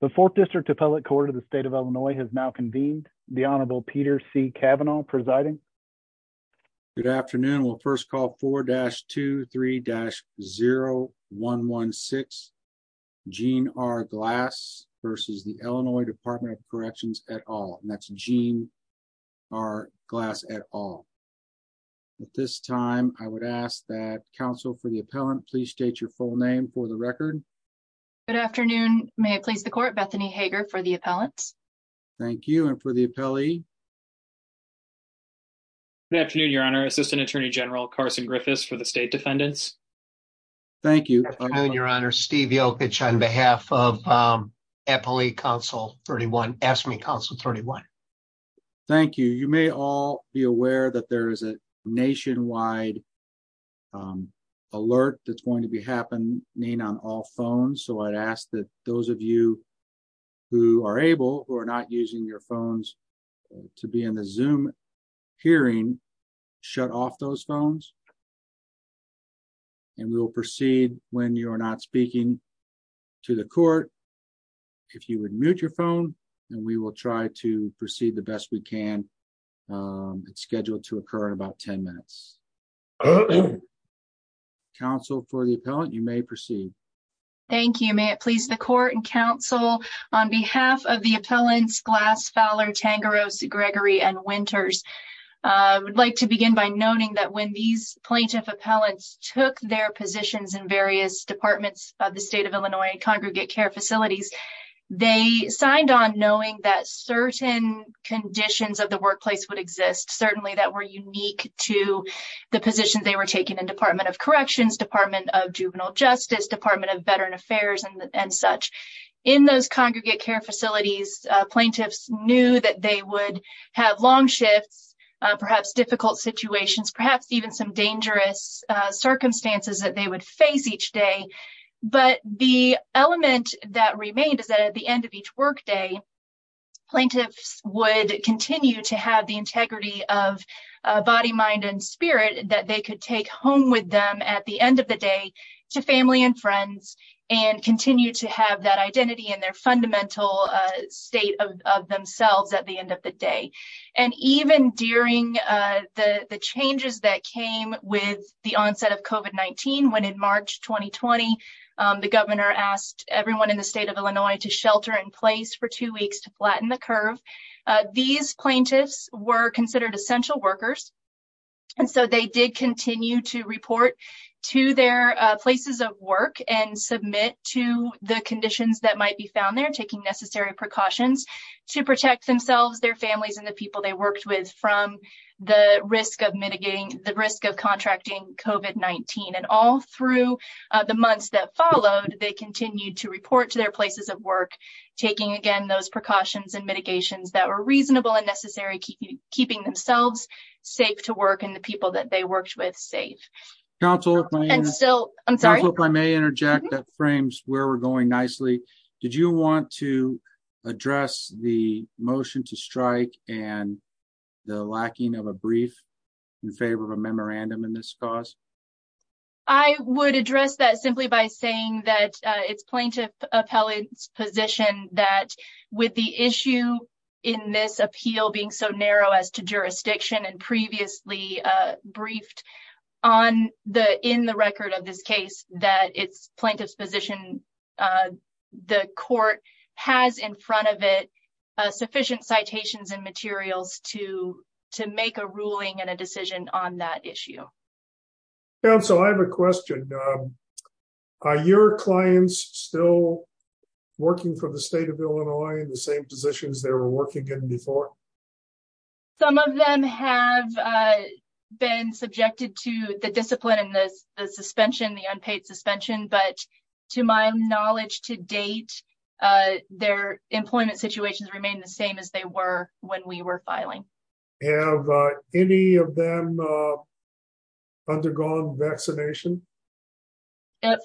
The Fourth District Appellate Court of the State of Illinois has now convened. The Honorable Peter C. Kavanaugh presiding. Good afternoon. We'll first call 4-23-0116 Jean R. Glass versus the Illinois Department of Corrections et al. And that's Jean R. Glass et al. At this time, I would ask that counsel for the appellant please state your full name for the record. Good afternoon. May it please the court, Bethany Hager for the appellant. Thank you. And for the appellee? Good afternoon, Your Honor. Assistant Attorney General Carson Griffiths for the State Defendants. Thank you. Good afternoon, Your Honor. Steve Yochich on behalf of AFSCME Council 31. Thank you. You may all be aware that there is a nationwide alert that's going to be happening on all phones. So I'd ask that those of you who are able or not using your phones to be in the Zoom hearing, shut off those phones. And we will proceed when you are not speaking to the court. If you would mute your phone and we will try to proceed the best we can. It's scheduled to occur in about 10 minutes. Counsel for the appellant, you may proceed. Thank you. May it please the court and counsel, on behalf of the appellants Glass, Fowler, Tangeros, Gregory and Winters, I would like to begin by noting that when these plaintiff appellants took their positions in various departments of the State of Illinois congregate care facilities, they signed on knowing that certain conditions of the workplace would exist, certainly that were unique to the position they were taking in Department of Corrections, Department of Juvenile Justice, Department of Veteran Affairs and such. In those congregate care facilities, plaintiffs knew that they would have long shifts, perhaps difficult situations, perhaps even some dangerous circumstances that they would face each day. But the element that remained is that at the end of each workday, plaintiffs would continue to have the integrity of body, mind and spirit that they could take home with them at the end of the day to family and friends and continue to have that identity and their fundamental state of themselves at the end of the day. And even during the changes that came with the onset of COVID-19, when in March 2020, the governor asked everyone in the state of Illinois to shelter in place for two weeks to flatten the curve. These plaintiffs were considered essential workers. And so they did continue to report to their places of work and submit to the conditions that might be found there, taking necessary precautions to protect themselves, their families and the people they worked with from the risk of mitigating the risk of contracting COVID-19. And all through the months that followed, they continued to report to their places of work, taking again those precautions and mitigations that were reasonable and necessary, keeping themselves safe to work and the people that they worked with safe. Council, if I may interject, that frames where we're going nicely. Did you want to address the motion to strike and the lacking of a brief in favor of a memorandum in this cause? I would address that simply by saying that it's plaintiff appellate's position that with the issue in this appeal being so narrow as to jurisdiction and previously briefed on the in the record of this case, that it's plaintiff's position. The court has in front of it sufficient citations and materials to to make a ruling and a decision on that issue. So I have a question. Are your clients still working for the state of Illinois in the same positions they were working in before? Some of them have been subjected to the discipline and the suspension, the unpaid suspension. But to my knowledge to date, their employment situations remain the same as they were when we were filing. Have any of them undergone vaccination?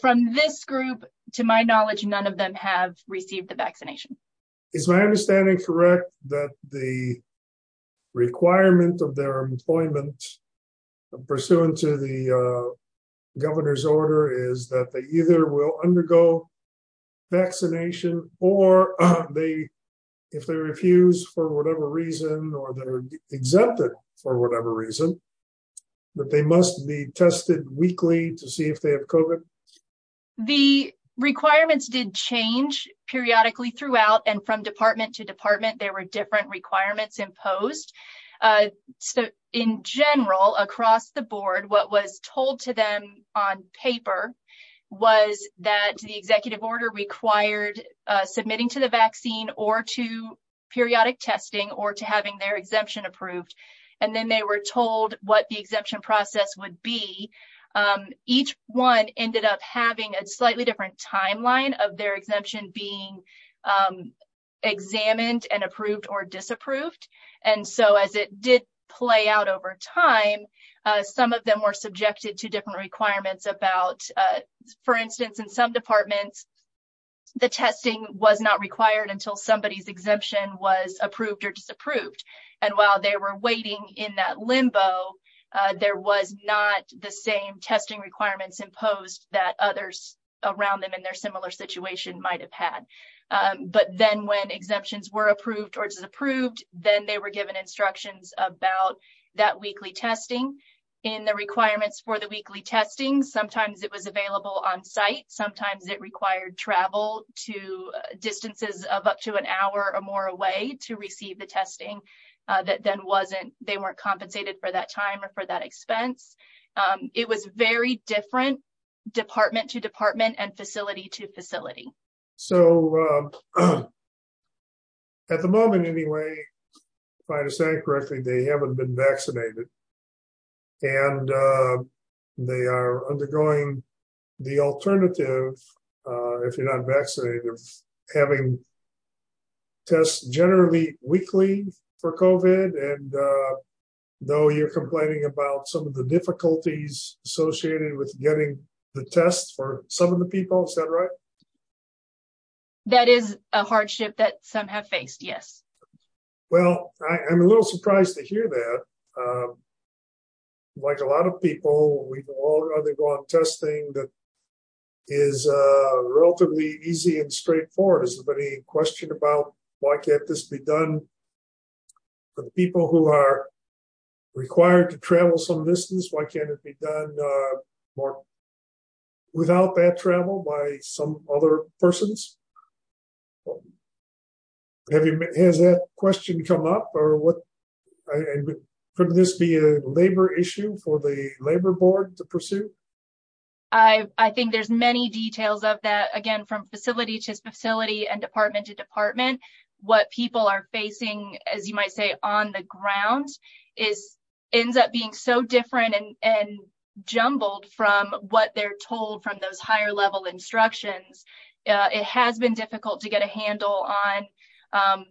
From this group, to my knowledge, none of them have received the vaccination. Is my understanding correct that the requirement of their employment pursuant to the governor's order is that they either will undergo vaccination or they if they refuse for whatever reason or they're exempted for whatever reason, that they must be tested weekly to see if they have COVID? The requirements did change periodically throughout and from department to department. There were different requirements imposed in general across the board. What was told to them on paper was that the executive order required submitting to the vaccine or to periodic testing or to having their exemption approved. And then they were told what the exemption process would be. Each one ended up having a slightly different timeline of their exemption being examined and approved or disapproved. And so as it did play out over time, some of them were subjected to different requirements about, for instance, in some departments, the testing was not required until somebody's exemption was approved or disapproved. And while they were waiting in that limbo, there was not the same testing requirements imposed that others around them in their similar situation might have had. But then when exemptions were approved or disapproved, then they were given instructions about that weekly testing in the requirements for the weekly testing. Sometimes it was available on site. Sometimes it required travel to distances of up to an hour or more away to receive the testing. That then wasn't they weren't compensated for that time or for that expense. It was very different department to department and facility to facility. So. At the moment, anyway, if I understand correctly, they haven't been vaccinated. And they are undergoing the alternative, if you're not vaccinated, of having. Tests generally weekly for COVID and though you're complaining about some of the difficulties associated with getting the tests for some of the people, is that right? That is a hardship that some have faced. Yes. Well, I'm a little surprised to hear that. Like a lot of people, we've all undergone testing that is relatively easy and straightforward. Is there any question about why can't this be done for the people who are required to travel some distance? Why can't it be done without that travel by some other persons? Has that question come up or what? Could this be a labor issue for the labor board to pursue? I think there's many details of that again from facility to facility and department to department. What people are facing, as you might say, on the ground is ends up being so different and jumbled from what they're told from those higher level instructions. It has been difficult to get a handle on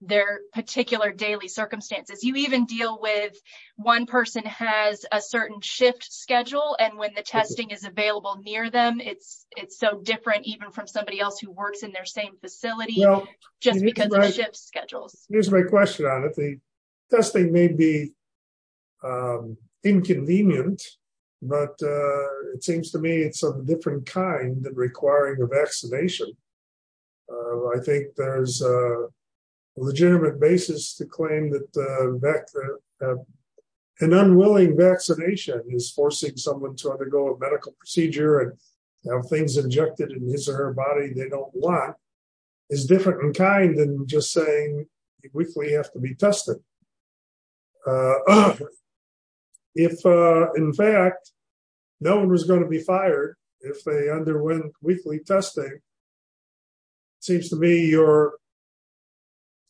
their particular daily circumstances. You even deal with one person has a certain shift schedule. And when the testing is available near them, it's so different even from somebody else who works in their same facility just because of shift schedules. Here's my question on it. The testing may be inconvenient, but it seems to me it's of a different kind than requiring a vaccination. I think there's a legitimate basis to claim that an unwilling vaccination is forcing someone to undergo a medical procedure and have things injected in his or her body they don't want. Is different in kind than just saying we have to be tested. If, in fact, no one was going to be fired if they underwent weekly testing. Seems to me your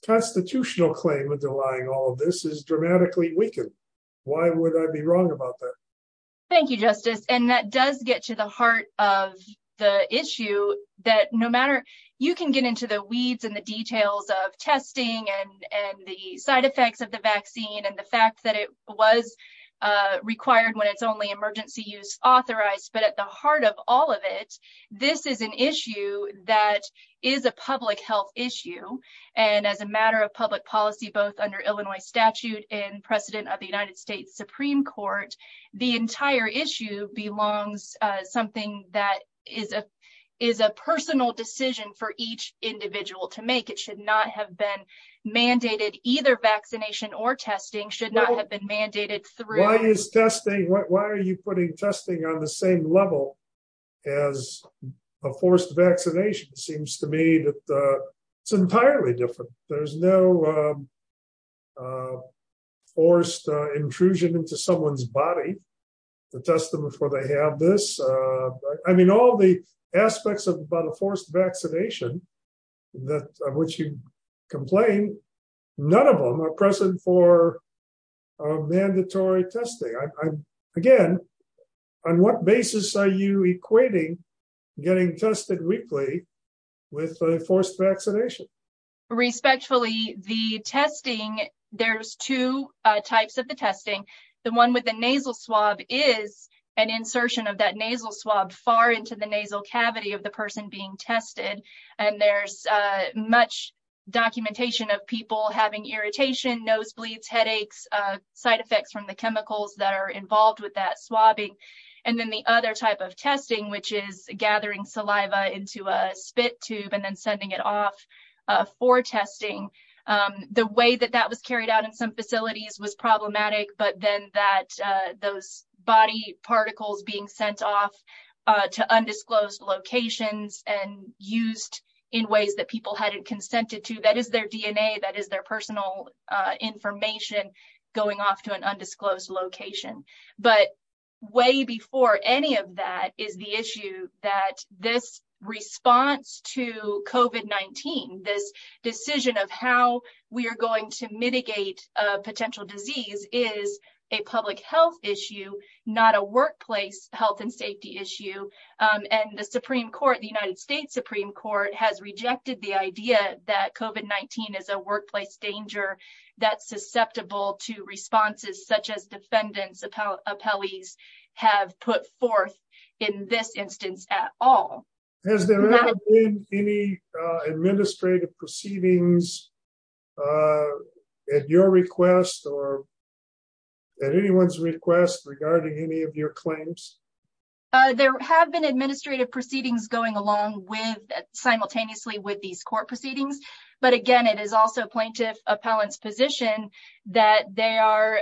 constitutional claim underlying all this is dramatically weakened. Why would I be wrong about that? Thank you, Justice. And that does get to the heart of the issue that no matter you can get into the weeds and the details of testing and the side effects of the vaccine and the fact that it was required when it's only emergency use authorized. But at the heart of all of it, this is an issue that is a public health issue. And as a matter of public policy, both under Illinois statute and precedent of the United States Supreme Court, the entire issue belongs something that is a is a personal decision for each individual to make. It should not have been mandated. Either vaccination or testing should not have been mandated. Why are you putting testing on the same level as a forced vaccination? Seems to me that it's entirely different. There's no forced intrusion into someone's body to test them before they have this. I mean, all the aspects of the forced vaccination that which you complain, none of them are present for mandatory testing. Again, on what basis are you equating getting tested weekly with forced vaccination? Respectfully, the testing there's two types of the testing. The one with the nasal swab is an insertion of that nasal swab far into the nasal cavity of the person being tested. And there's much documentation of people having irritation, nosebleeds, headaches, side effects from the chemicals that are involved with that swabbing. And then the other type of testing, which is gathering saliva into a spit tube and then sending it off for testing. The way that that was carried out in some facilities was problematic, but then that those body particles being sent off to undisclosed locations and used in ways that people hadn't consented to. That is their DNA. That is their personal information going off to an undisclosed location. But way before any of that is the issue that this response to COVID-19, this decision of how we are going to mitigate a potential disease is a public health issue, not a workplace health and safety issue. And the Supreme Court, the United States Supreme Court has rejected the idea that COVID-19 is a workplace danger that's susceptible to responses such as defendants, appellees have put forth in this instance at all. Has there been any administrative proceedings at your request or at anyone's request regarding any of your claims? There have been administrative proceedings going along with simultaneously with these court proceedings. But again, it is also plaintiff appellants position that they are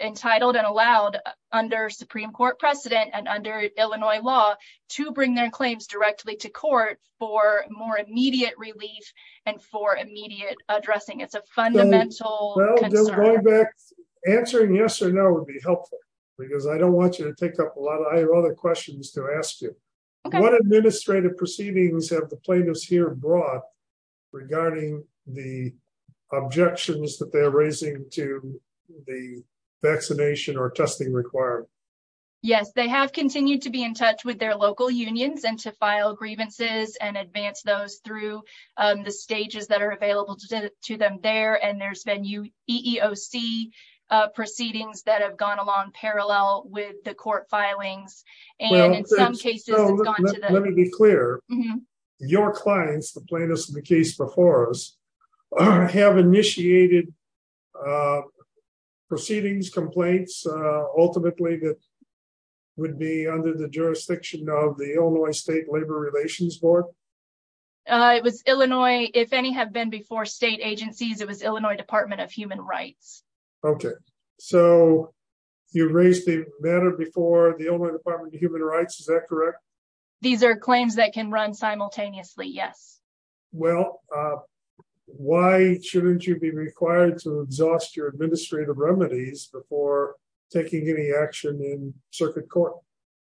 entitled and allowed under Supreme Court precedent and under Illinois law to bring their claims directly to court for more immediate relief and for immediate addressing. Answering yes or no would be helpful because I don't want you to take up a lot of other questions to ask you. What administrative proceedings have the plaintiffs here brought regarding the objections that they're raising to the vaccination or testing requirement? Yes, they have continued to be in touch with their local unions and to file grievances and advance those through the stages that are available to them there. And there's been EEOC proceedings that have gone along parallel with the court filings. Let me be clear. Your clients, the plaintiffs in the case before us, have initiated proceedings, complaints, ultimately that would be under the jurisdiction of the Illinois State Labor Relations Board? It was Illinois, if any have been before state agencies, it was Illinois Department of Human Rights. Okay, so you raised the matter before the Illinois Department of Human Rights. Is that correct? These are claims that can run simultaneously. Yes. Well, why shouldn't you be required to exhaust your administrative remedies before taking any action in circuit court?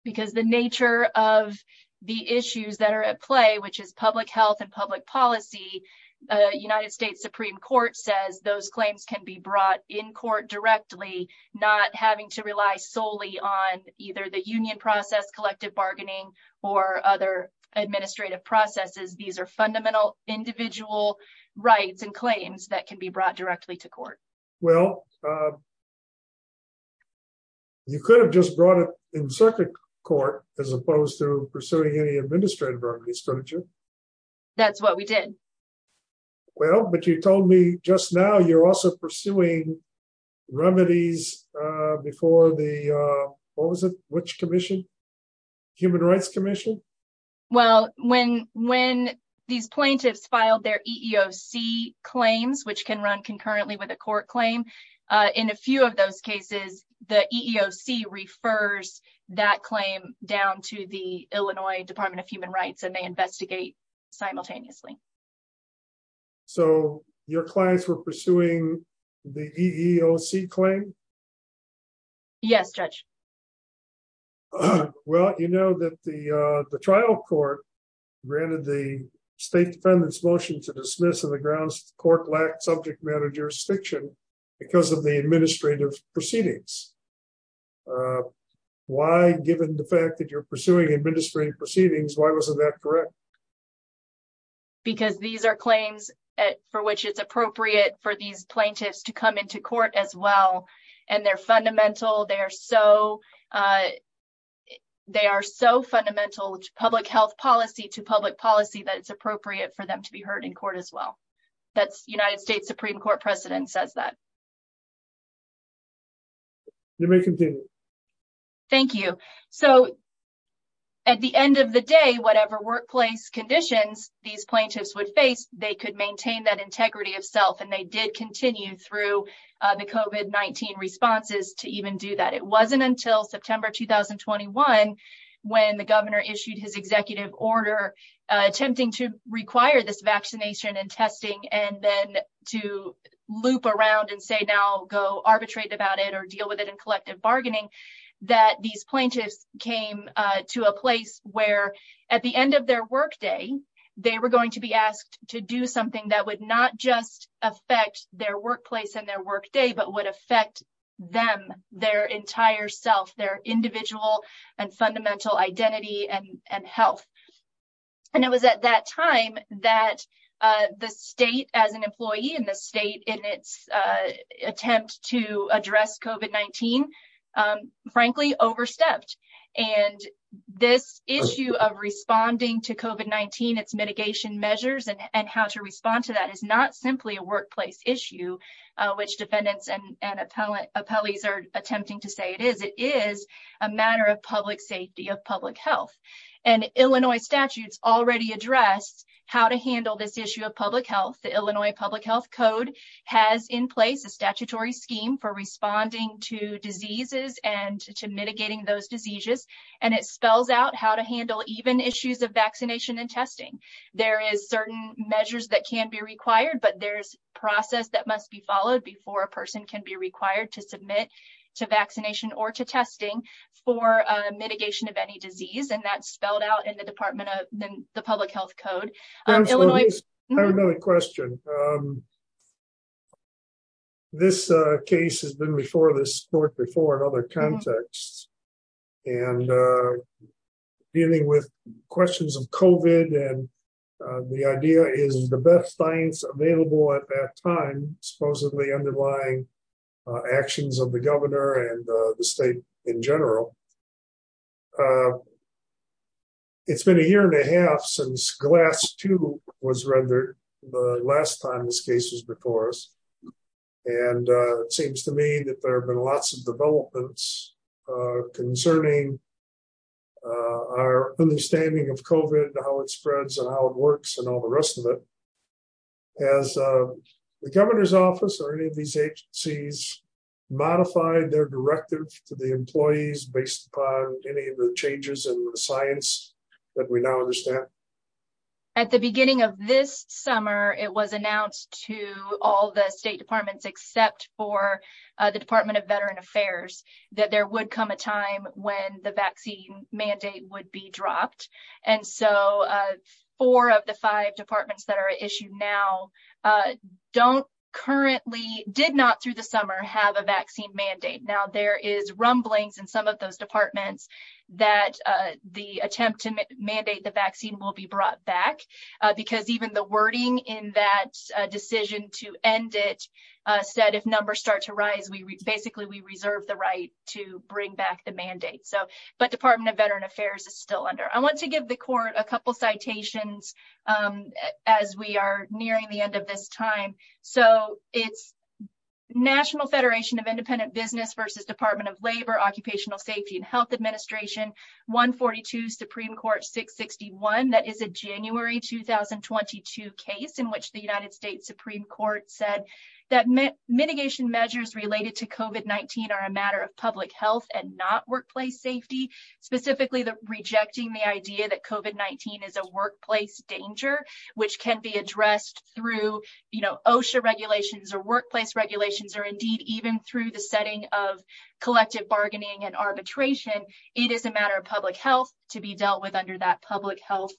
Because the nature of the issues that are at play, which is public health and public policy, the United States Supreme Court says those claims can be brought in court directly, not having to rely solely on either the union process, collective bargaining or other administrative processes. These are fundamental individual rights and claims that can be brought directly to court. Well, you could have just brought it in circuit court, as opposed to pursuing any administrative remedies, couldn't you? That's what we did. Well, but you told me just now you're also pursuing remedies before the, what was it, which commission? Human Rights Commission? Well, when these plaintiffs filed their EEOC claims, which can run concurrently with a court claim, in a few of those cases, the EEOC refers that claim down to the Illinois Department of Human Rights and they investigate simultaneously. So your clients were pursuing the EEOC claim? Yes, Judge. Well, you know that the trial court granted the State Defendant's motion to dismiss on the grounds the court lacked subject matter jurisdiction because of the administrative proceedings. Why, given the fact that you're pursuing administrative proceedings, why wasn't that correct? Because these are claims for which it's appropriate for these plaintiffs to come into court as well. And they're fundamental. They are so, they are so fundamental to public health policy, to public policy, that it's appropriate for them to be heard in court as well. That's United States Supreme Court precedent says that. Thank you. So, at the end of the day, whatever workplace conditions these plaintiffs would face, they could maintain that integrity of self. And they did continue through the COVID-19 responses to even do that. It wasn't until September 2021, when the governor issued his executive order, attempting to require this vaccination and testing, and then to loop around and say now go arbitrate about it or deal with it in collective bargaining, that these plaintiffs came to a place where, at the end of their work day, they were going to be asked to do something that would not just affect their workplace and their work day, but would affect them, their integrity. Their entire self, their individual and fundamental identity and health. And it was at that time that the state as an employee in the state in its attempt to address COVID-19, frankly, overstepped. And this issue of responding to COVID-19, its mitigation measures, and how to respond to that is not simply a workplace issue, which defendants and appellees are attempting to say it is. It is a matter of public safety, of public health. And Illinois statutes already address how to handle this issue of public health. The Illinois Public Health Code has in place a statutory scheme for responding to diseases and to mitigating those diseases. And it spells out how to handle even issues of vaccination and testing. There is certain measures that can be required, but there's process that must be followed before a person can be required to submit to vaccination or to testing for mitigation of any disease. And that's spelled out in the Department of the Public Health Code. I have another question. This case has been before this court before in other contexts. And dealing with questions of COVID and the idea is the best science available at that time, supposedly underlying actions of the governor and the state in general. It's been a year and a half since Glass 2 was rendered the last time this case was before us. And it seems to me that there have been lots of developments concerning our understanding of COVID, how it spreads and how it works and all the rest of it. Has the governor's office or any of these agencies modified their directive to the employees based upon any of the changes in the science that we now understand? At the beginning of this summer, it was announced to all the state departments, except for the Department of Veteran Affairs, that there would come a time when the vaccine mandate would be dropped. And so, four of the five departments that are issued now don't currently, did not through the summer, have a vaccine mandate. Now, there is rumblings in some of those departments that the attempt to mandate the vaccine will be brought back. Because even the wording in that decision to end it said if numbers start to rise, basically we reserve the right to bring back the mandate. But Department of Veteran Affairs is still under. I want to give the court a couple citations as we are nearing the end of this time. So, it's National Federation of Independent Business versus Department of Labor Occupational Safety and Health Administration, 142 Supreme Court 661. That is a January 2022 case in which the United States Supreme Court said that mitigation measures related to COVID-19 are a matter of public health and not workplace safety. Specifically, rejecting the idea that COVID-19 is a workplace danger, which can be addressed through OSHA regulations or workplace regulations, or indeed, even through the setting of collective bargaining and arbitration. It is a matter of public health to be dealt with under that public health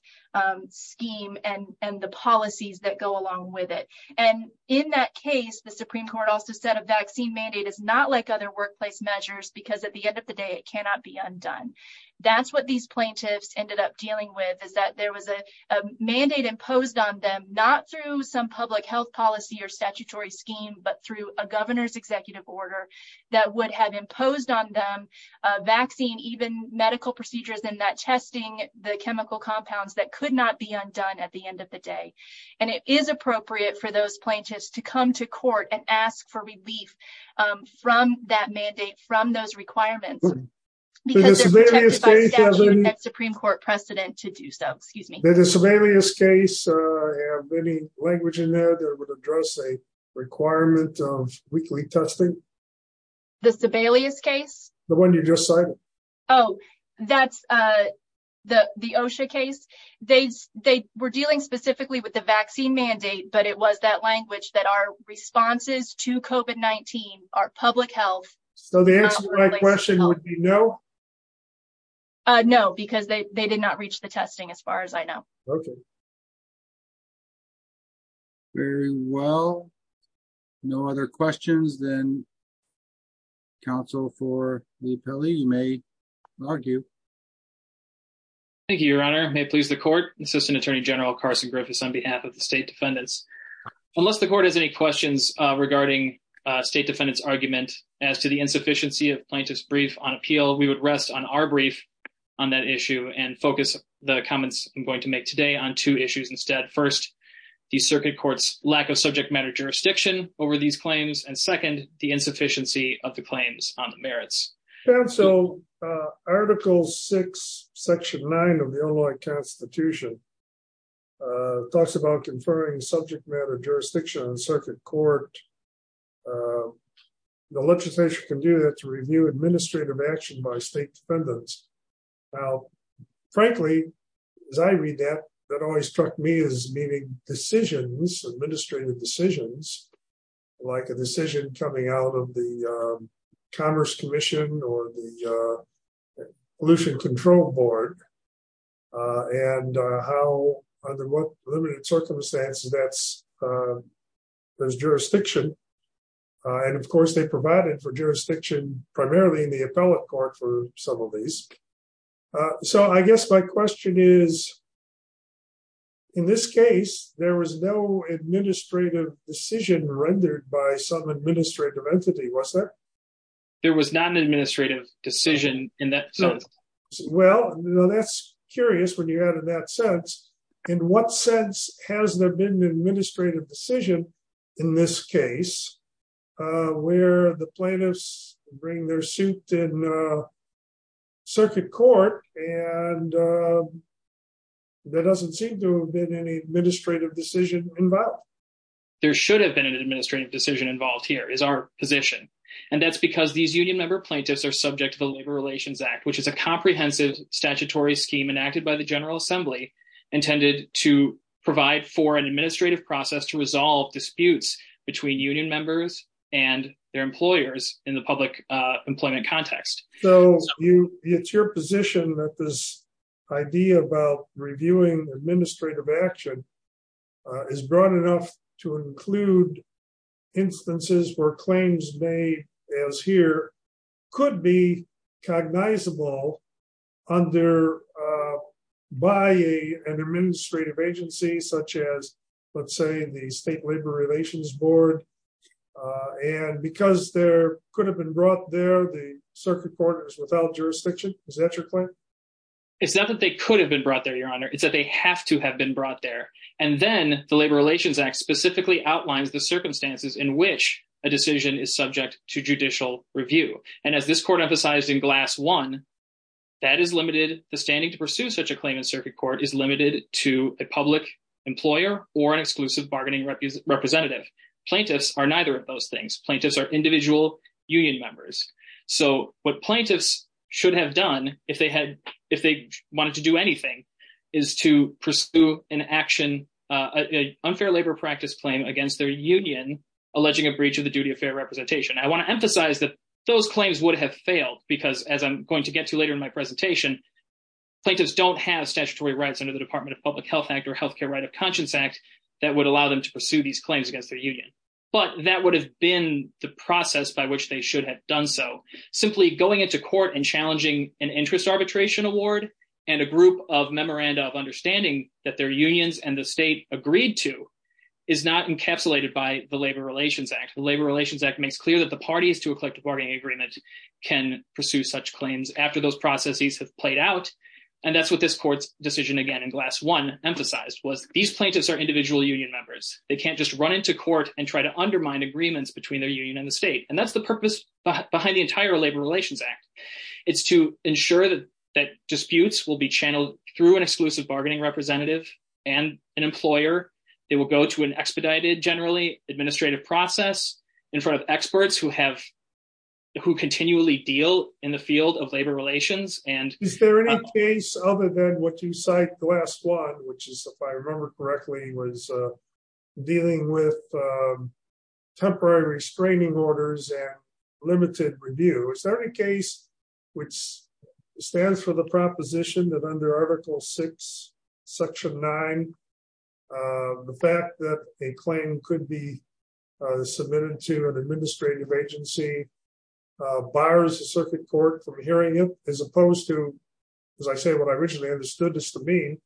scheme and the policies that go along with it. And in that case, the Supreme Court also said a vaccine mandate is not like other workplace measures because at the end of the day, it cannot be undone. That's what these plaintiffs ended up dealing with is that there was a mandate imposed on them, not through some public health policy or statutory scheme, but through a governor's executive order that would have imposed on them a vaccine, even medical procedures in that testing the chemical compounds that could not be undone at the end of the day. And it is appropriate for those plaintiffs to come to court and ask for relief from that mandate, from those requirements. The Sebelius case has any language in there that would address a requirement of weekly testing? The Sebelius case? The one you just cited. Oh, that's the OSHA case. They were dealing specifically with the vaccine mandate, but it was that language that our responses to COVID-19, our public health. So the answer to my question would be no? No, because they did not reach the testing as far as I know. Okay. Very well. No other questions, then, counsel for the appellee? You may argue. Thank you, Your Honor. May it please the court? Assistant Attorney General Carson Griffiths on behalf of the state defendants. Unless the court has any questions regarding state defendants' argument as to the insufficiency of plaintiff's brief on appeal, we would rest on our brief on that issue and focus the comments I'm going to make today on two issues instead. First, the circuit court's lack of subject matter jurisdiction over these claims, and second, the insufficiency of the claims on the merits. Counsel, Article 6, Section 9 of the Illinois Constitution talks about conferring subject matter jurisdiction on circuit court. The legislature can do that to review administrative action by state defendants. Now, frankly, as I read that, that always struck me as meaning decisions, administrative decisions, like a decision coming out of the Commerce Commission or the Pollution Control Board, and how, under what limited circumstances that's, there's jurisdiction. And, of course, they provided for jurisdiction primarily in the appellate court for some of these. So, I guess my question is, in this case, there was no administrative decision rendered by some administrative entity, was there? There was not an administrative decision in that sense. Well, that's curious when you add in that sense. In what sense has there been an administrative decision in this case where the plaintiffs bring their suit in circuit court and there doesn't seem to have been any administrative decision involved? There should have been an administrative decision involved here, is our position. And that's because these union member plaintiffs are subject to the Labor Relations Act, which is a comprehensive statutory scheme enacted by the General Assembly intended to provide for an administrative process to resolve disputes between union members and their employers in the public employment context. So, it's your position that this idea about reviewing administrative action is broad enough to include instances where claims made as here could be cognizable under, by an administrative agency, such as, let's say, the State Labor Relations Board. And because there could have been brought there, the circuit court is without jurisdiction. Is that your claim? It's not that they could have been brought there, Your Honor. It's that they have to have been brought there. And then the Labor Relations Act specifically outlines the circumstances in which a decision is subject to judicial review. And as this court emphasized in Glass 1, that is limited, the standing to pursue such a claim in circuit court is limited to a public employer or an exclusive bargaining representative. Plaintiffs are neither of those things. Plaintiffs are individual union members. So, what plaintiffs should have done if they had, if they wanted to do anything, is to pursue an action, an unfair labor practice claim against their union, alleging a breach of the duty of fair representation. I want to emphasize that those claims would have failed because, as I'm going to get to later in my presentation, plaintiffs don't have statutory rights under the Department of Public Health Act or Health Care Right of Conscience Act that would allow them to pursue these claims against their union. But that would have been the process by which they should have done so. Simply going into court and challenging an interest arbitration award and a group of memoranda of understanding that their unions and the state agreed to is not encapsulated by the Labor Relations Act. The Labor Relations Act makes clear that the parties to a collective bargaining agreement can pursue such claims after those processes have played out. And that's what this court's decision again in Glass 1 emphasized was these plaintiffs are individual union members. They can't just run into court and try to undermine agreements between their union and the state. And that's the purpose behind the entire Labor Relations Act. It's to ensure that disputes will be channeled through an exclusive bargaining representative and an employer. They will go to an expedited, generally administrative process in front of experts who continually deal in the field of labor relations. Is there any case other than what you cite Glass 1, which is, if I remember correctly, was dealing with temporary restraining orders and limited review. Is there any case which stands for the proposition that under Article 6, Section 9, the fact that a claim could be submitted to an administrative agency bars the circuit court from hearing it, as opposed to, as I say, what I originally understood this to mean,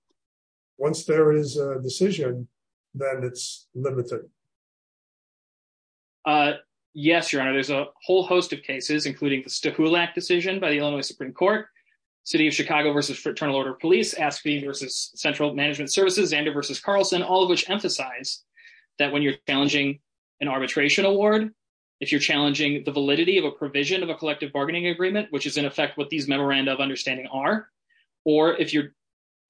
once there is a decision, then it's limited? Yes, Your Honor, there's a whole host of cases, including the Stahulak decision by the Illinois Supreme Court, City of Chicago v. Fraternal Order of Police, Aspen v. Central Management Services, Zander v. Carlson, all of which emphasize that when you're challenging an arbitration award, if you're challenging the validity of a provision of a collective bargaining agreement, which is, in effect, what these memoranda of understanding are, or if you're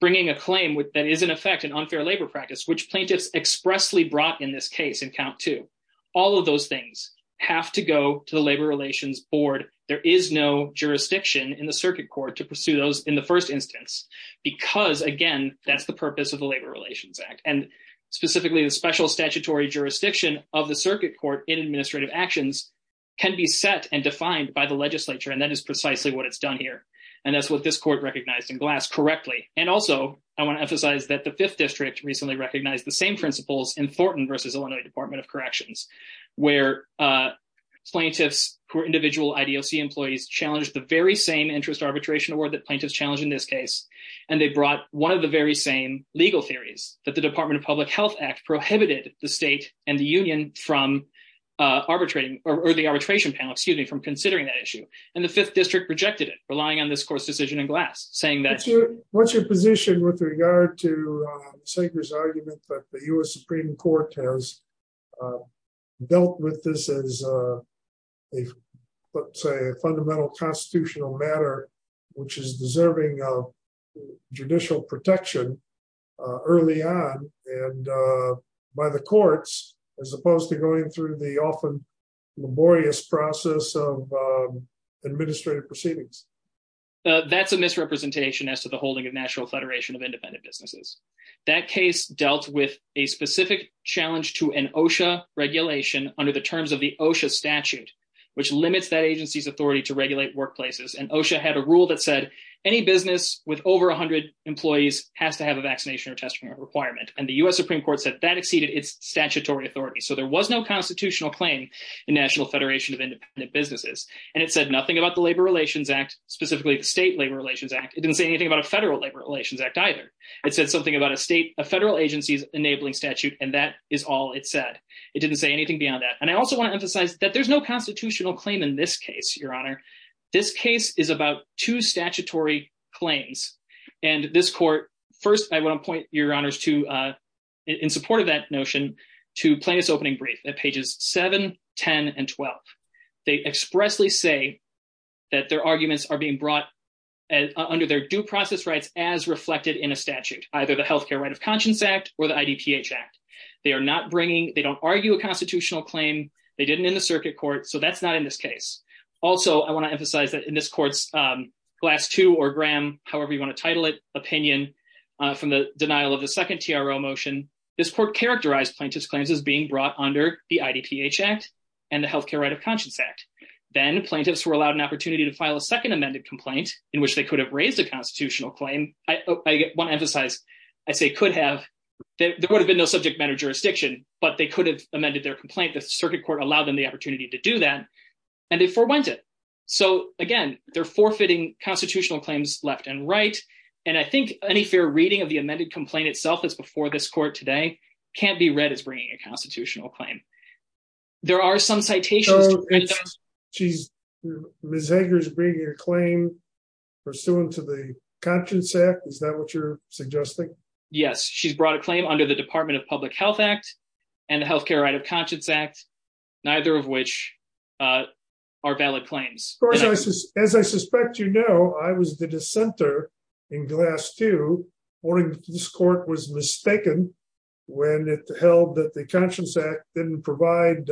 bringing a claim that is, in effect, an unfair labor practice, which plaintiffs expressly brought in this case in Count 2, all of those things have to go to the Labor Relations Board. There is no jurisdiction in the circuit court to pursue those in the first instance, because, again, that's the purpose of the Labor Relations Act. And specifically, the special statutory jurisdiction of the circuit court in administrative actions can be set and defined by the legislature, and that is precisely what it's done here. And that's what this court recognized in Glass correctly. And also, I want to emphasize that the Fifth District recently recognized the same principles in Thornton v. Illinois Department of Corrections, where plaintiffs who are individual IDOC employees challenged the very same interest arbitration award that plaintiffs challenged in this case, and they brought one of the very same legal theories that the Department of Public Health Act prohibited the state and the union from arbitrating, or the arbitration panel, excuse me, from considering that issue. And the Fifth District rejected it, relying on this court's decision in Glass, saying that- That's a misrepresentation as to the holding of National Federation of Independent Businesses. That case dealt with a specific challenge to an OSHA regulation under the terms of the OSHA statute, which limits that agency's authority to regulate workplaces. And OSHA had a rule that said any business with over 100 employees has to have a vaccination or testing requirement, and the U.S. Supreme Court said that exceeded its statutory authority, so there was no constitutional claim in National Federation of Independent Businesses. And it said nothing about the Labor Relations Act, specifically the state Labor Relations Act. It didn't say anything about a federal Labor Relations Act either. It said something about a federal agency's enabling statute, and that is all it said. It didn't say anything beyond that. And I also want to emphasize that there's no constitutional claim in this case, Your Honor. This case is about two statutory claims, and this court- First, I want to point Your Honors to, in support of that notion, to Plaintiffs' Opening Brief at pages 7, 10, and 12. They expressly say that their arguments are being brought under their due process rights as reflected in a statute, either the Health Care Right of Conscience Act or the IDPH Act. They are not bringing- They don't argue a constitutional claim. They didn't in the circuit court, so that's not in this case. Also, I want to emphasize that in this court's Glass 2 or Graham, however you want to title it, opinion from the denial of the second TRO motion, this court characterized Plaintiffs' claims as being brought under the IDPH Act and the Health Care Right of Conscience Act. Then, Plaintiffs were allowed an opportunity to file a second amended complaint in which they could have raised a constitutional claim. I want to emphasize, I say could have. There would have been no subject matter jurisdiction, but they could have amended their complaint. The circuit court allowed them the opportunity to do that, and they forwent it. So, again, they're forfeiting constitutional claims left and right, and I think any fair reading of the amended complaint itself as before this court today can't be read as bringing a constitutional claim. There are some citations- So, Ms. Hager's bringing a claim pursuant to the Conscience Act. Is that what you're suggesting? Yes. She's brought a claim under the Department of Public Health Act and the Health Care Right of Conscience Act, neither of which are valid claims. Of course, as I suspect you know, I was the dissenter in Glass 2 warning that this court was mistaken when it held that the Conscience Act didn't provide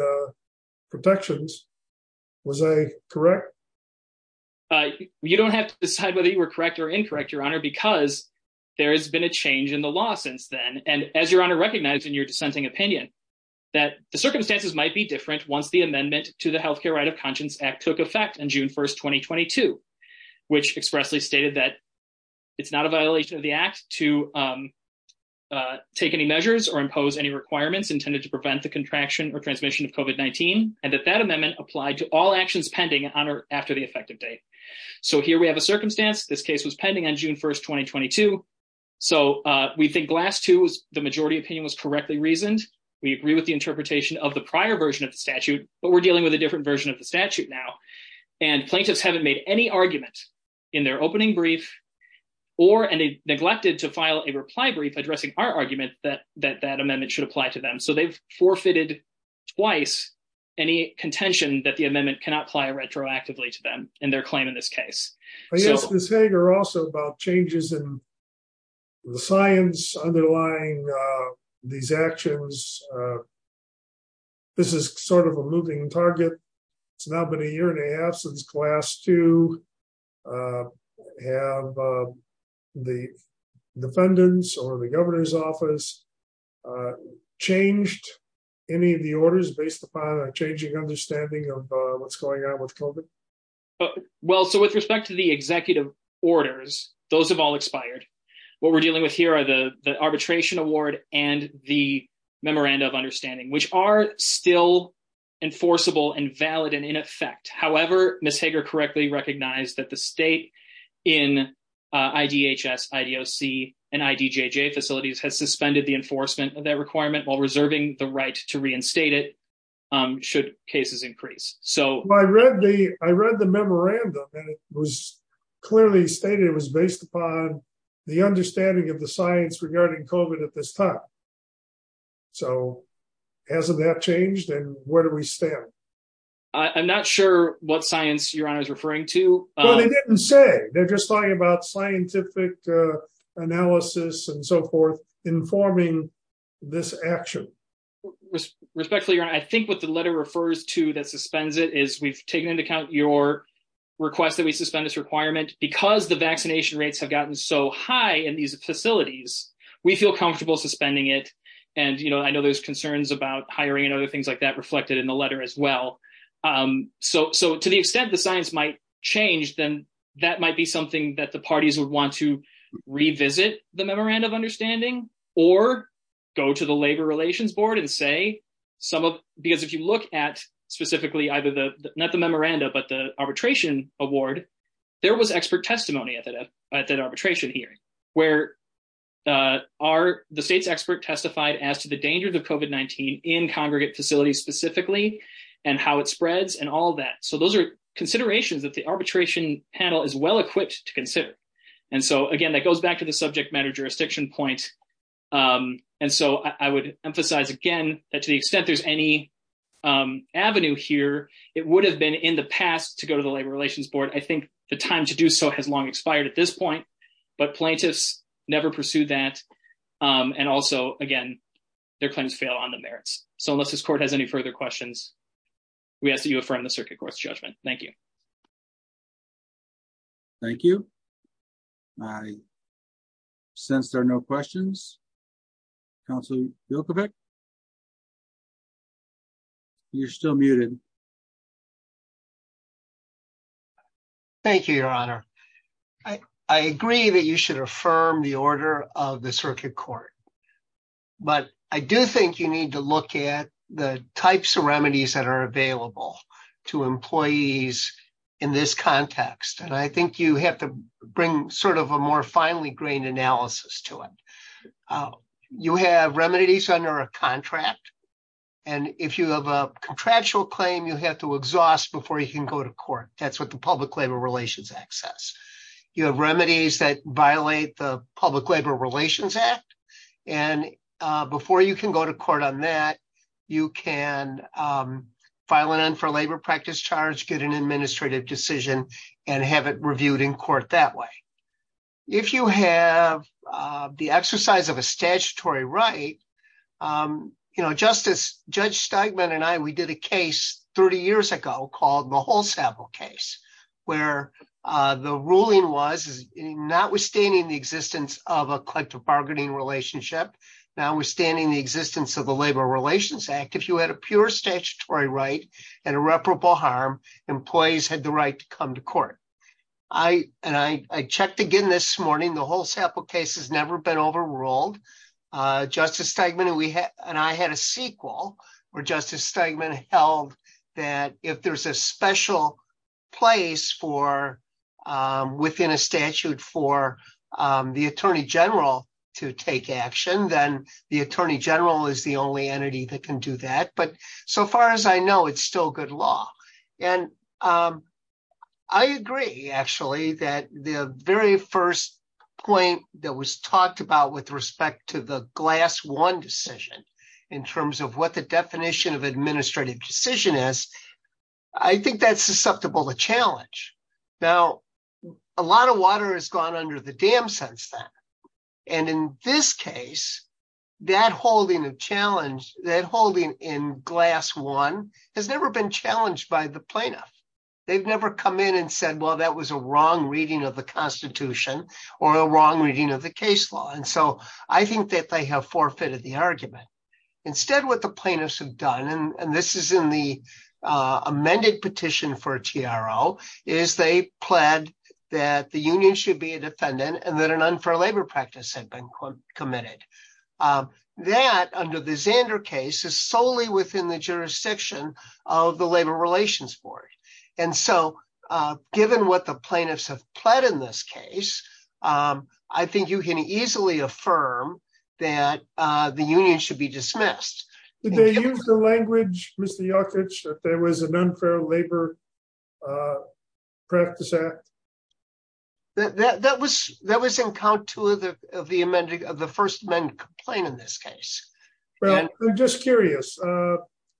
protections. Was I correct? You don't have to decide whether you were correct or incorrect, Your Honor, because there has been a change in the law since then. And as Your Honor recognized in your dissenting opinion, that the circumstances might be different once the amendment to the Health Care Right of Conscience Act took effect on June 1, 2022, which expressly stated that it's not a violation of the Act to take any measures or impose any requirements intended to prevent the contraction or transmission of COVID-19, and that that amendment applied to all actions pending after the effective date. So here we have a circumstance. This case was pending on June 1, 2022. So we think Glass 2's majority opinion was correctly reasoned. We agree with the interpretation of the prior version of the statute, but we're dealing with a different version of the statute now. And plaintiffs haven't made any argument in their opening brief or neglected to file a reply brief addressing our argument that that amendment should apply to them. So they've forfeited twice any contention that the amendment cannot apply retroactively to them in their claim in this case. I guess, Ms. Hager, also about changes in the science underlying these actions. This is sort of a moving target. It's now been a year and a half since Glass 2. Have the defendants or the governor's office changed any of the orders based upon a changing understanding of what's going on with COVID? Well, so with respect to the executive orders, those have all expired. What we're dealing with here are the arbitration award and the memoranda of understanding, which are still enforceable and valid and in effect. However, Ms. Hager correctly recognized that the state in IDHS, IDOC, and IDJJ facilities has suspended the enforcement of that requirement while reserving the right to reinstate it should cases increase. I read the memorandum and it was clearly stated it was based upon the understanding of the science regarding COVID at this time. So hasn't that changed? And where do we stand? I'm not sure what science Your Honor is referring to. Well, they didn't say. They're just talking about scientific analysis and so forth informing this action. Respectfully, Your Honor, I think what the letter refers to that suspends it is we've taken into account your request that we suspend this requirement because the vaccination rates have gotten so high in these facilities. We feel comfortable suspending it and I know there's concerns about hiring and other things like that reflected in the letter as well. So to the extent the science might change, then that might be something that the parties would want to revisit the memorandum of understanding or go to the Labor Relations Board and say some of because if you look at specifically either the not the memoranda, but the arbitration award. There was expert testimony at that arbitration hearing where the state's expert testified as to the dangers of COVID-19 in congregate facilities specifically and how it spreads and all that. So those are considerations that the arbitration panel is well equipped to consider. And so again, that goes back to the subject matter jurisdiction point. And so I would emphasize again that to the extent there's any avenue here, it would have been in the past to go to the Labor Relations Board. I think the time to do so has long expired at this point, but plaintiffs never pursued that. And also, again, their claims fail on the merits. So unless this court has any further questions, we ask that you affirm the circuit court's judgment. Thank you. Thank you. I sense there are no questions. Counsel. You're still muted. Thank you, Your Honor. I agree that you should affirm the order of the circuit court. But I do think you need to look at the types of remedies that are available to employees in this context. And I think you have to bring sort of a more finely grained analysis to it. You have remedies under a contract. And if you have a contractual claim, you have to exhaust before you can go to court. That's what the Public Labor Relations Act says. You have remedies that violate the Public Labor Relations Act. And before you can go to court on that, you can file an end for labor practice charge, get an administrative decision, and have it reviewed in court that way. If you have the exercise of a statutory right, you know, Justice Judge Steigman and I, we did a case 30 years ago called the whole sample case where the ruling was notwithstanding the existence of a collective bargaining relationship, notwithstanding the existence of the Labor Relations Act. If you had a pure statutory right and irreparable harm, employees had the right to come to court. And I checked again this morning, the whole sample case has never been overruled. Justice Steigman and I had a sequel where Justice Steigman held that if there's a special place within a statute for the Attorney General to take action, then the Attorney General is the only entity that can do that. But so far as I know, it's still good law. And I agree, actually, that the very first point that was talked about with respect to the glass one decision in terms of what the definition of administrative decision is, I think that's susceptible to challenge. Now, a lot of water has gone under the dam since then. And in this case, that holding of challenge, that holding in glass one has never been challenged by the plaintiff. They've never come in and said, well, that was a wrong reading of the Constitution or a wrong reading of the case law. And so I think that they have forfeited the argument. Instead, what the plaintiffs have done, and this is in the amended petition for TRO, is they pled that the union should be a defendant and that an unfair labor practice had been committed. That under the Xander case is solely within the jurisdiction of the Labor Relations Board. And so given what the plaintiffs have pled in this case, I think you can easily affirm that the union should be dismissed. Did they use the language, Mr. Jokic, that there was an unfair labor practice act? That was in count two of the first amended complaint in this case. Well, I'm just curious.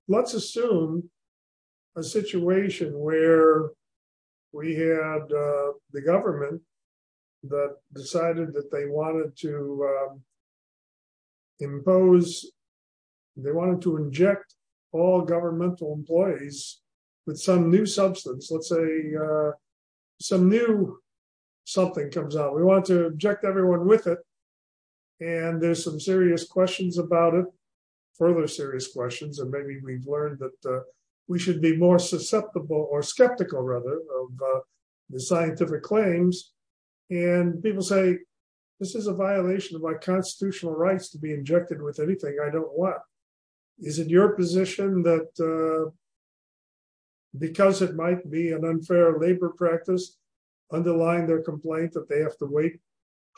Let's assume a situation where we had the government that decided that they wanted to impose, they wanted to inject all governmental employees with some new substance. Let's say some new something comes out. We want to inject everyone with it. And there's some serious questions about it, further serious questions, and maybe we've learned that we should be more susceptible or skeptical, rather, of the scientific claims. And people say, this is a violation of my constitutional rights to be injected with anything I don't want. Is it your position that because it might be an unfair labor practice, underline their complaint that they have to wait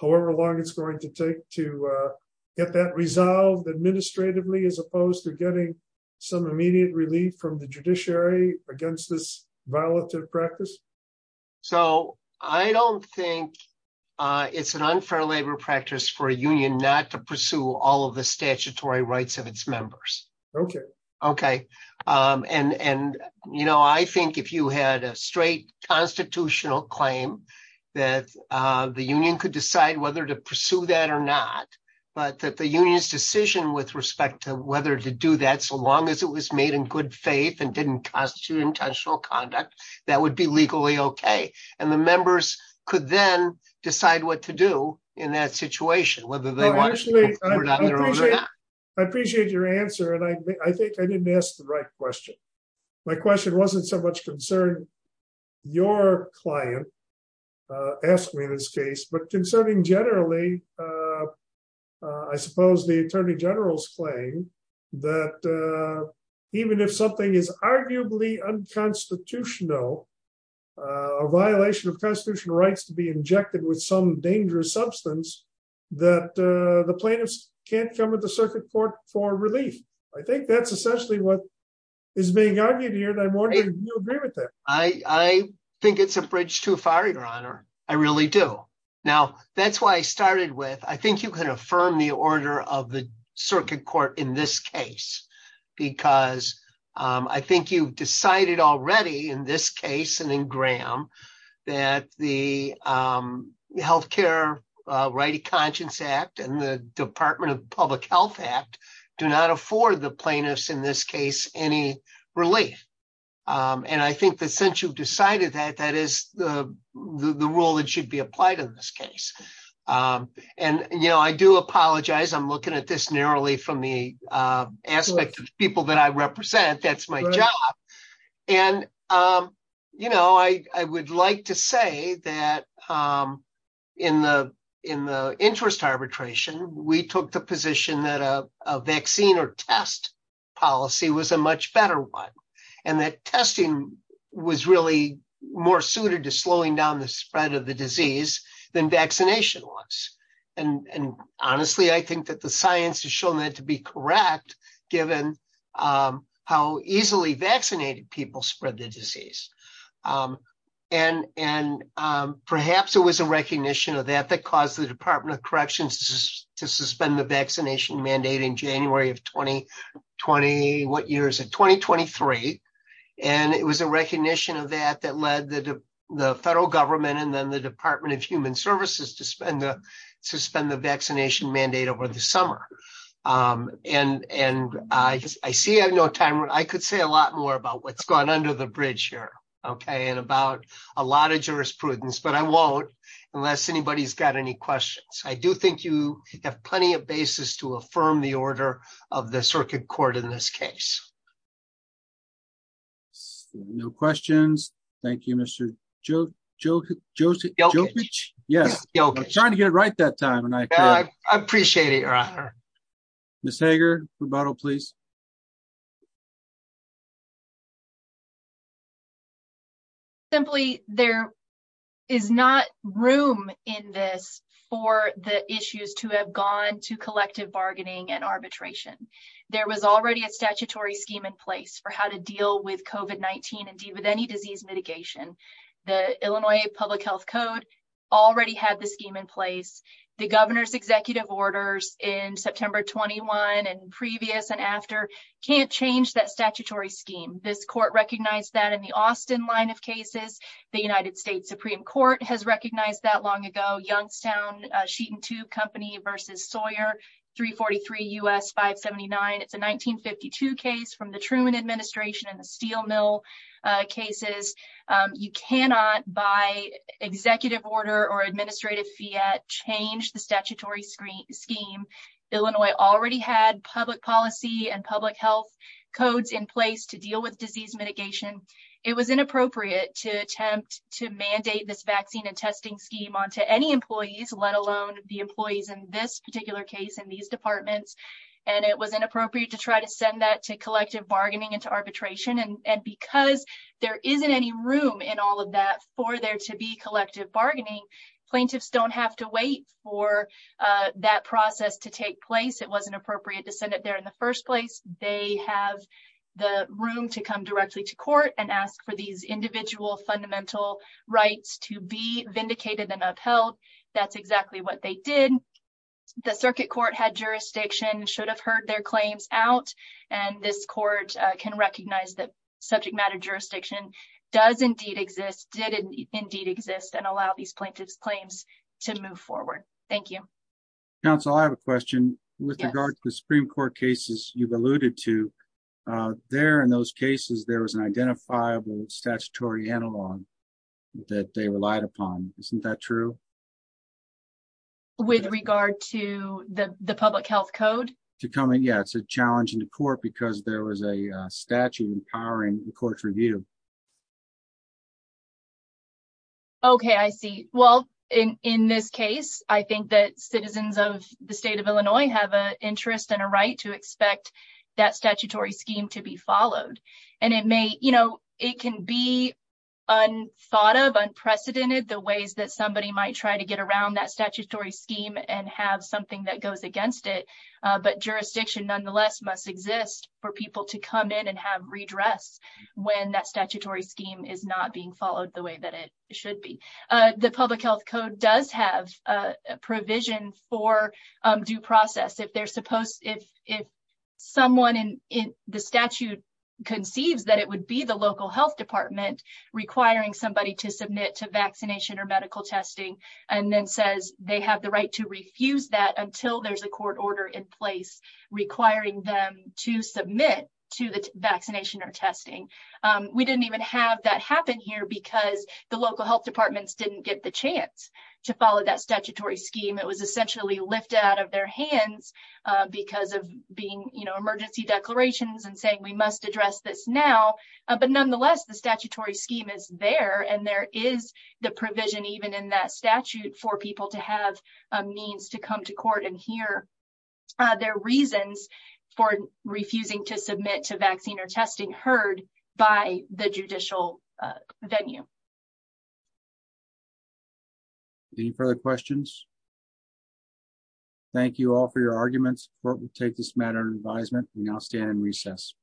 however long it's going to take to get that resolved administratively as opposed to getting some immediate relief from the judiciary against this violative practice? So I don't think it's an unfair labor practice for a union not to pursue all of the statutory rights of its members. Okay. And, you know, I think if you had a straight constitutional claim that the union could decide whether to pursue that or not, but that the union's decision with respect to whether to do that, so long as it was made in good faith and didn't constitute intentional conduct, that would be legally okay. And the members could then decide what to do in that situation, whether they want to do it or not. I appreciate your answer. And I think I didn't ask the right question. My question wasn't so much concern your client asked me in this case, but concerning generally, I suppose the Attorney General's claim that even if something is arguably unconstitutional, a violation of constitutional rights to be injected with some dangerous substance, that the plaintiffs can't come at the circuit court for relief. I think that's essentially what is being argued here and I'm wondering if you agree with that. I think it's a bridge too far, Your Honor. I really do. Now, that's why I started with, I think you can affirm the order of the circuit court in this case, because I think you decided already in this case and in Graham, that the Health Care Right of Conscience Act and the Department of Public Health Act do not afford the plaintiffs in this case any relief. And I think that since you've decided that, that is the rule that should be applied in this case. And, you know, I do apologize. I'm looking at this narrowly from the aspect of people that I represent. That's my job. And, you know, I would like to say that in the interest arbitration, we took the position that a vaccine or test policy was a much better one. And that testing was really more suited to slowing down the spread of the disease than vaccination was. And honestly, I think that the science has shown that to be correct, given how easily vaccinated people spread the disease. And perhaps it was a recognition of that that caused the Department of Corrections to suspend the vaccination mandate in January of 2020, what year is it? 2023. And it was a recognition of that that led the federal government and then the Department of Human Services to suspend the vaccination mandate over the summer. And I see I have no time. I could say a lot more about what's going on under the bridge here. Okay. And about a lot of jurisprudence, but I won't unless anybody's got any questions. I do think you have plenty of basis to affirm the order of the circuit court in this case. No questions. Thank you, Mr. Joe, Joe, Joe. Yes, I'm trying to get it right that time and I appreciate it. Miss Hager rebuttal please. Simply, there is not room in this for the issues to have gone to collective bargaining and arbitration. There was already a statutory scheme in place for how to deal with covet 19 and deal with any disease mitigation. The Illinois public health code already had the scheme in place. The governor's executive orders in September 21 and previous and after can't change that statutory scheme. This court recognized that in the Austin line of cases, the United States Supreme Court has recognized that long ago. Youngstown sheet and 2 company versus Sawyer 343 US 579. It's a 1952 case from the Truman administration and the steel mill cases. You cannot buy executive order or administrative Fiat change the statutory screen scheme. Illinois already had public policy and public health codes in place to deal with disease mitigation. It was inappropriate to attempt to mandate this vaccine and testing scheme on to any employees, let alone the employees in this particular case in these departments. And it was inappropriate to try to send that to collective bargaining into arbitration. And because there isn't any room in all of that for there to be collective bargaining plaintiffs don't have to wait for that process to take place. It wasn't appropriate to send it there in the first place. They have the room to come directly to court and ask for these individual fundamental rights to be vindicated and upheld. That's exactly what they did. The circuit court had jurisdiction should have heard their claims out. And this court can recognize that subject matter jurisdiction does indeed exist did indeed exist and allow these plaintiffs claims to move forward. Thank you. Council I have a question with regard to the Supreme Court cases, you've alluded to there in those cases there was an identifiable statutory analog that they relied upon. Isn't that true. With regard to the public health code to come in. Yeah, it's a challenge in the court because there was a statute empowering the court review. Okay, I see. Well, in this case, I think that citizens of the state of Illinois have a interest in a right to expect that statutory scheme to be followed. And it may, you know, it can be on thought of unprecedented the ways that somebody might try to get around that statutory scheme and have something that goes against it. But jurisdiction nonetheless must exist for people to come in and have redress when that statutory scheme is not being followed the way that it should be. The public health code does have a provision for due process if they're supposed if, if someone in the statute conceives that it would be the local health department requiring somebody to submit to vaccination or medical testing. And then says they have the right to refuse that until there's a court order in place, requiring them to submit to the vaccination or testing. We didn't even have that happen here because the local health departments didn't get the chance to follow that statutory scheme it was essentially lift out of their hands. Because of being, you know, emergency declarations and saying we must address this now. But nonetheless, the statutory scheme is there and there is the provision even in that statute for people to have a means to come to court and hear their reasons for refusing to submit to vaccine or testing heard by the judicial venue. Any further questions. Thank you all for your arguments for take this matter and advisement, we now stand in recess.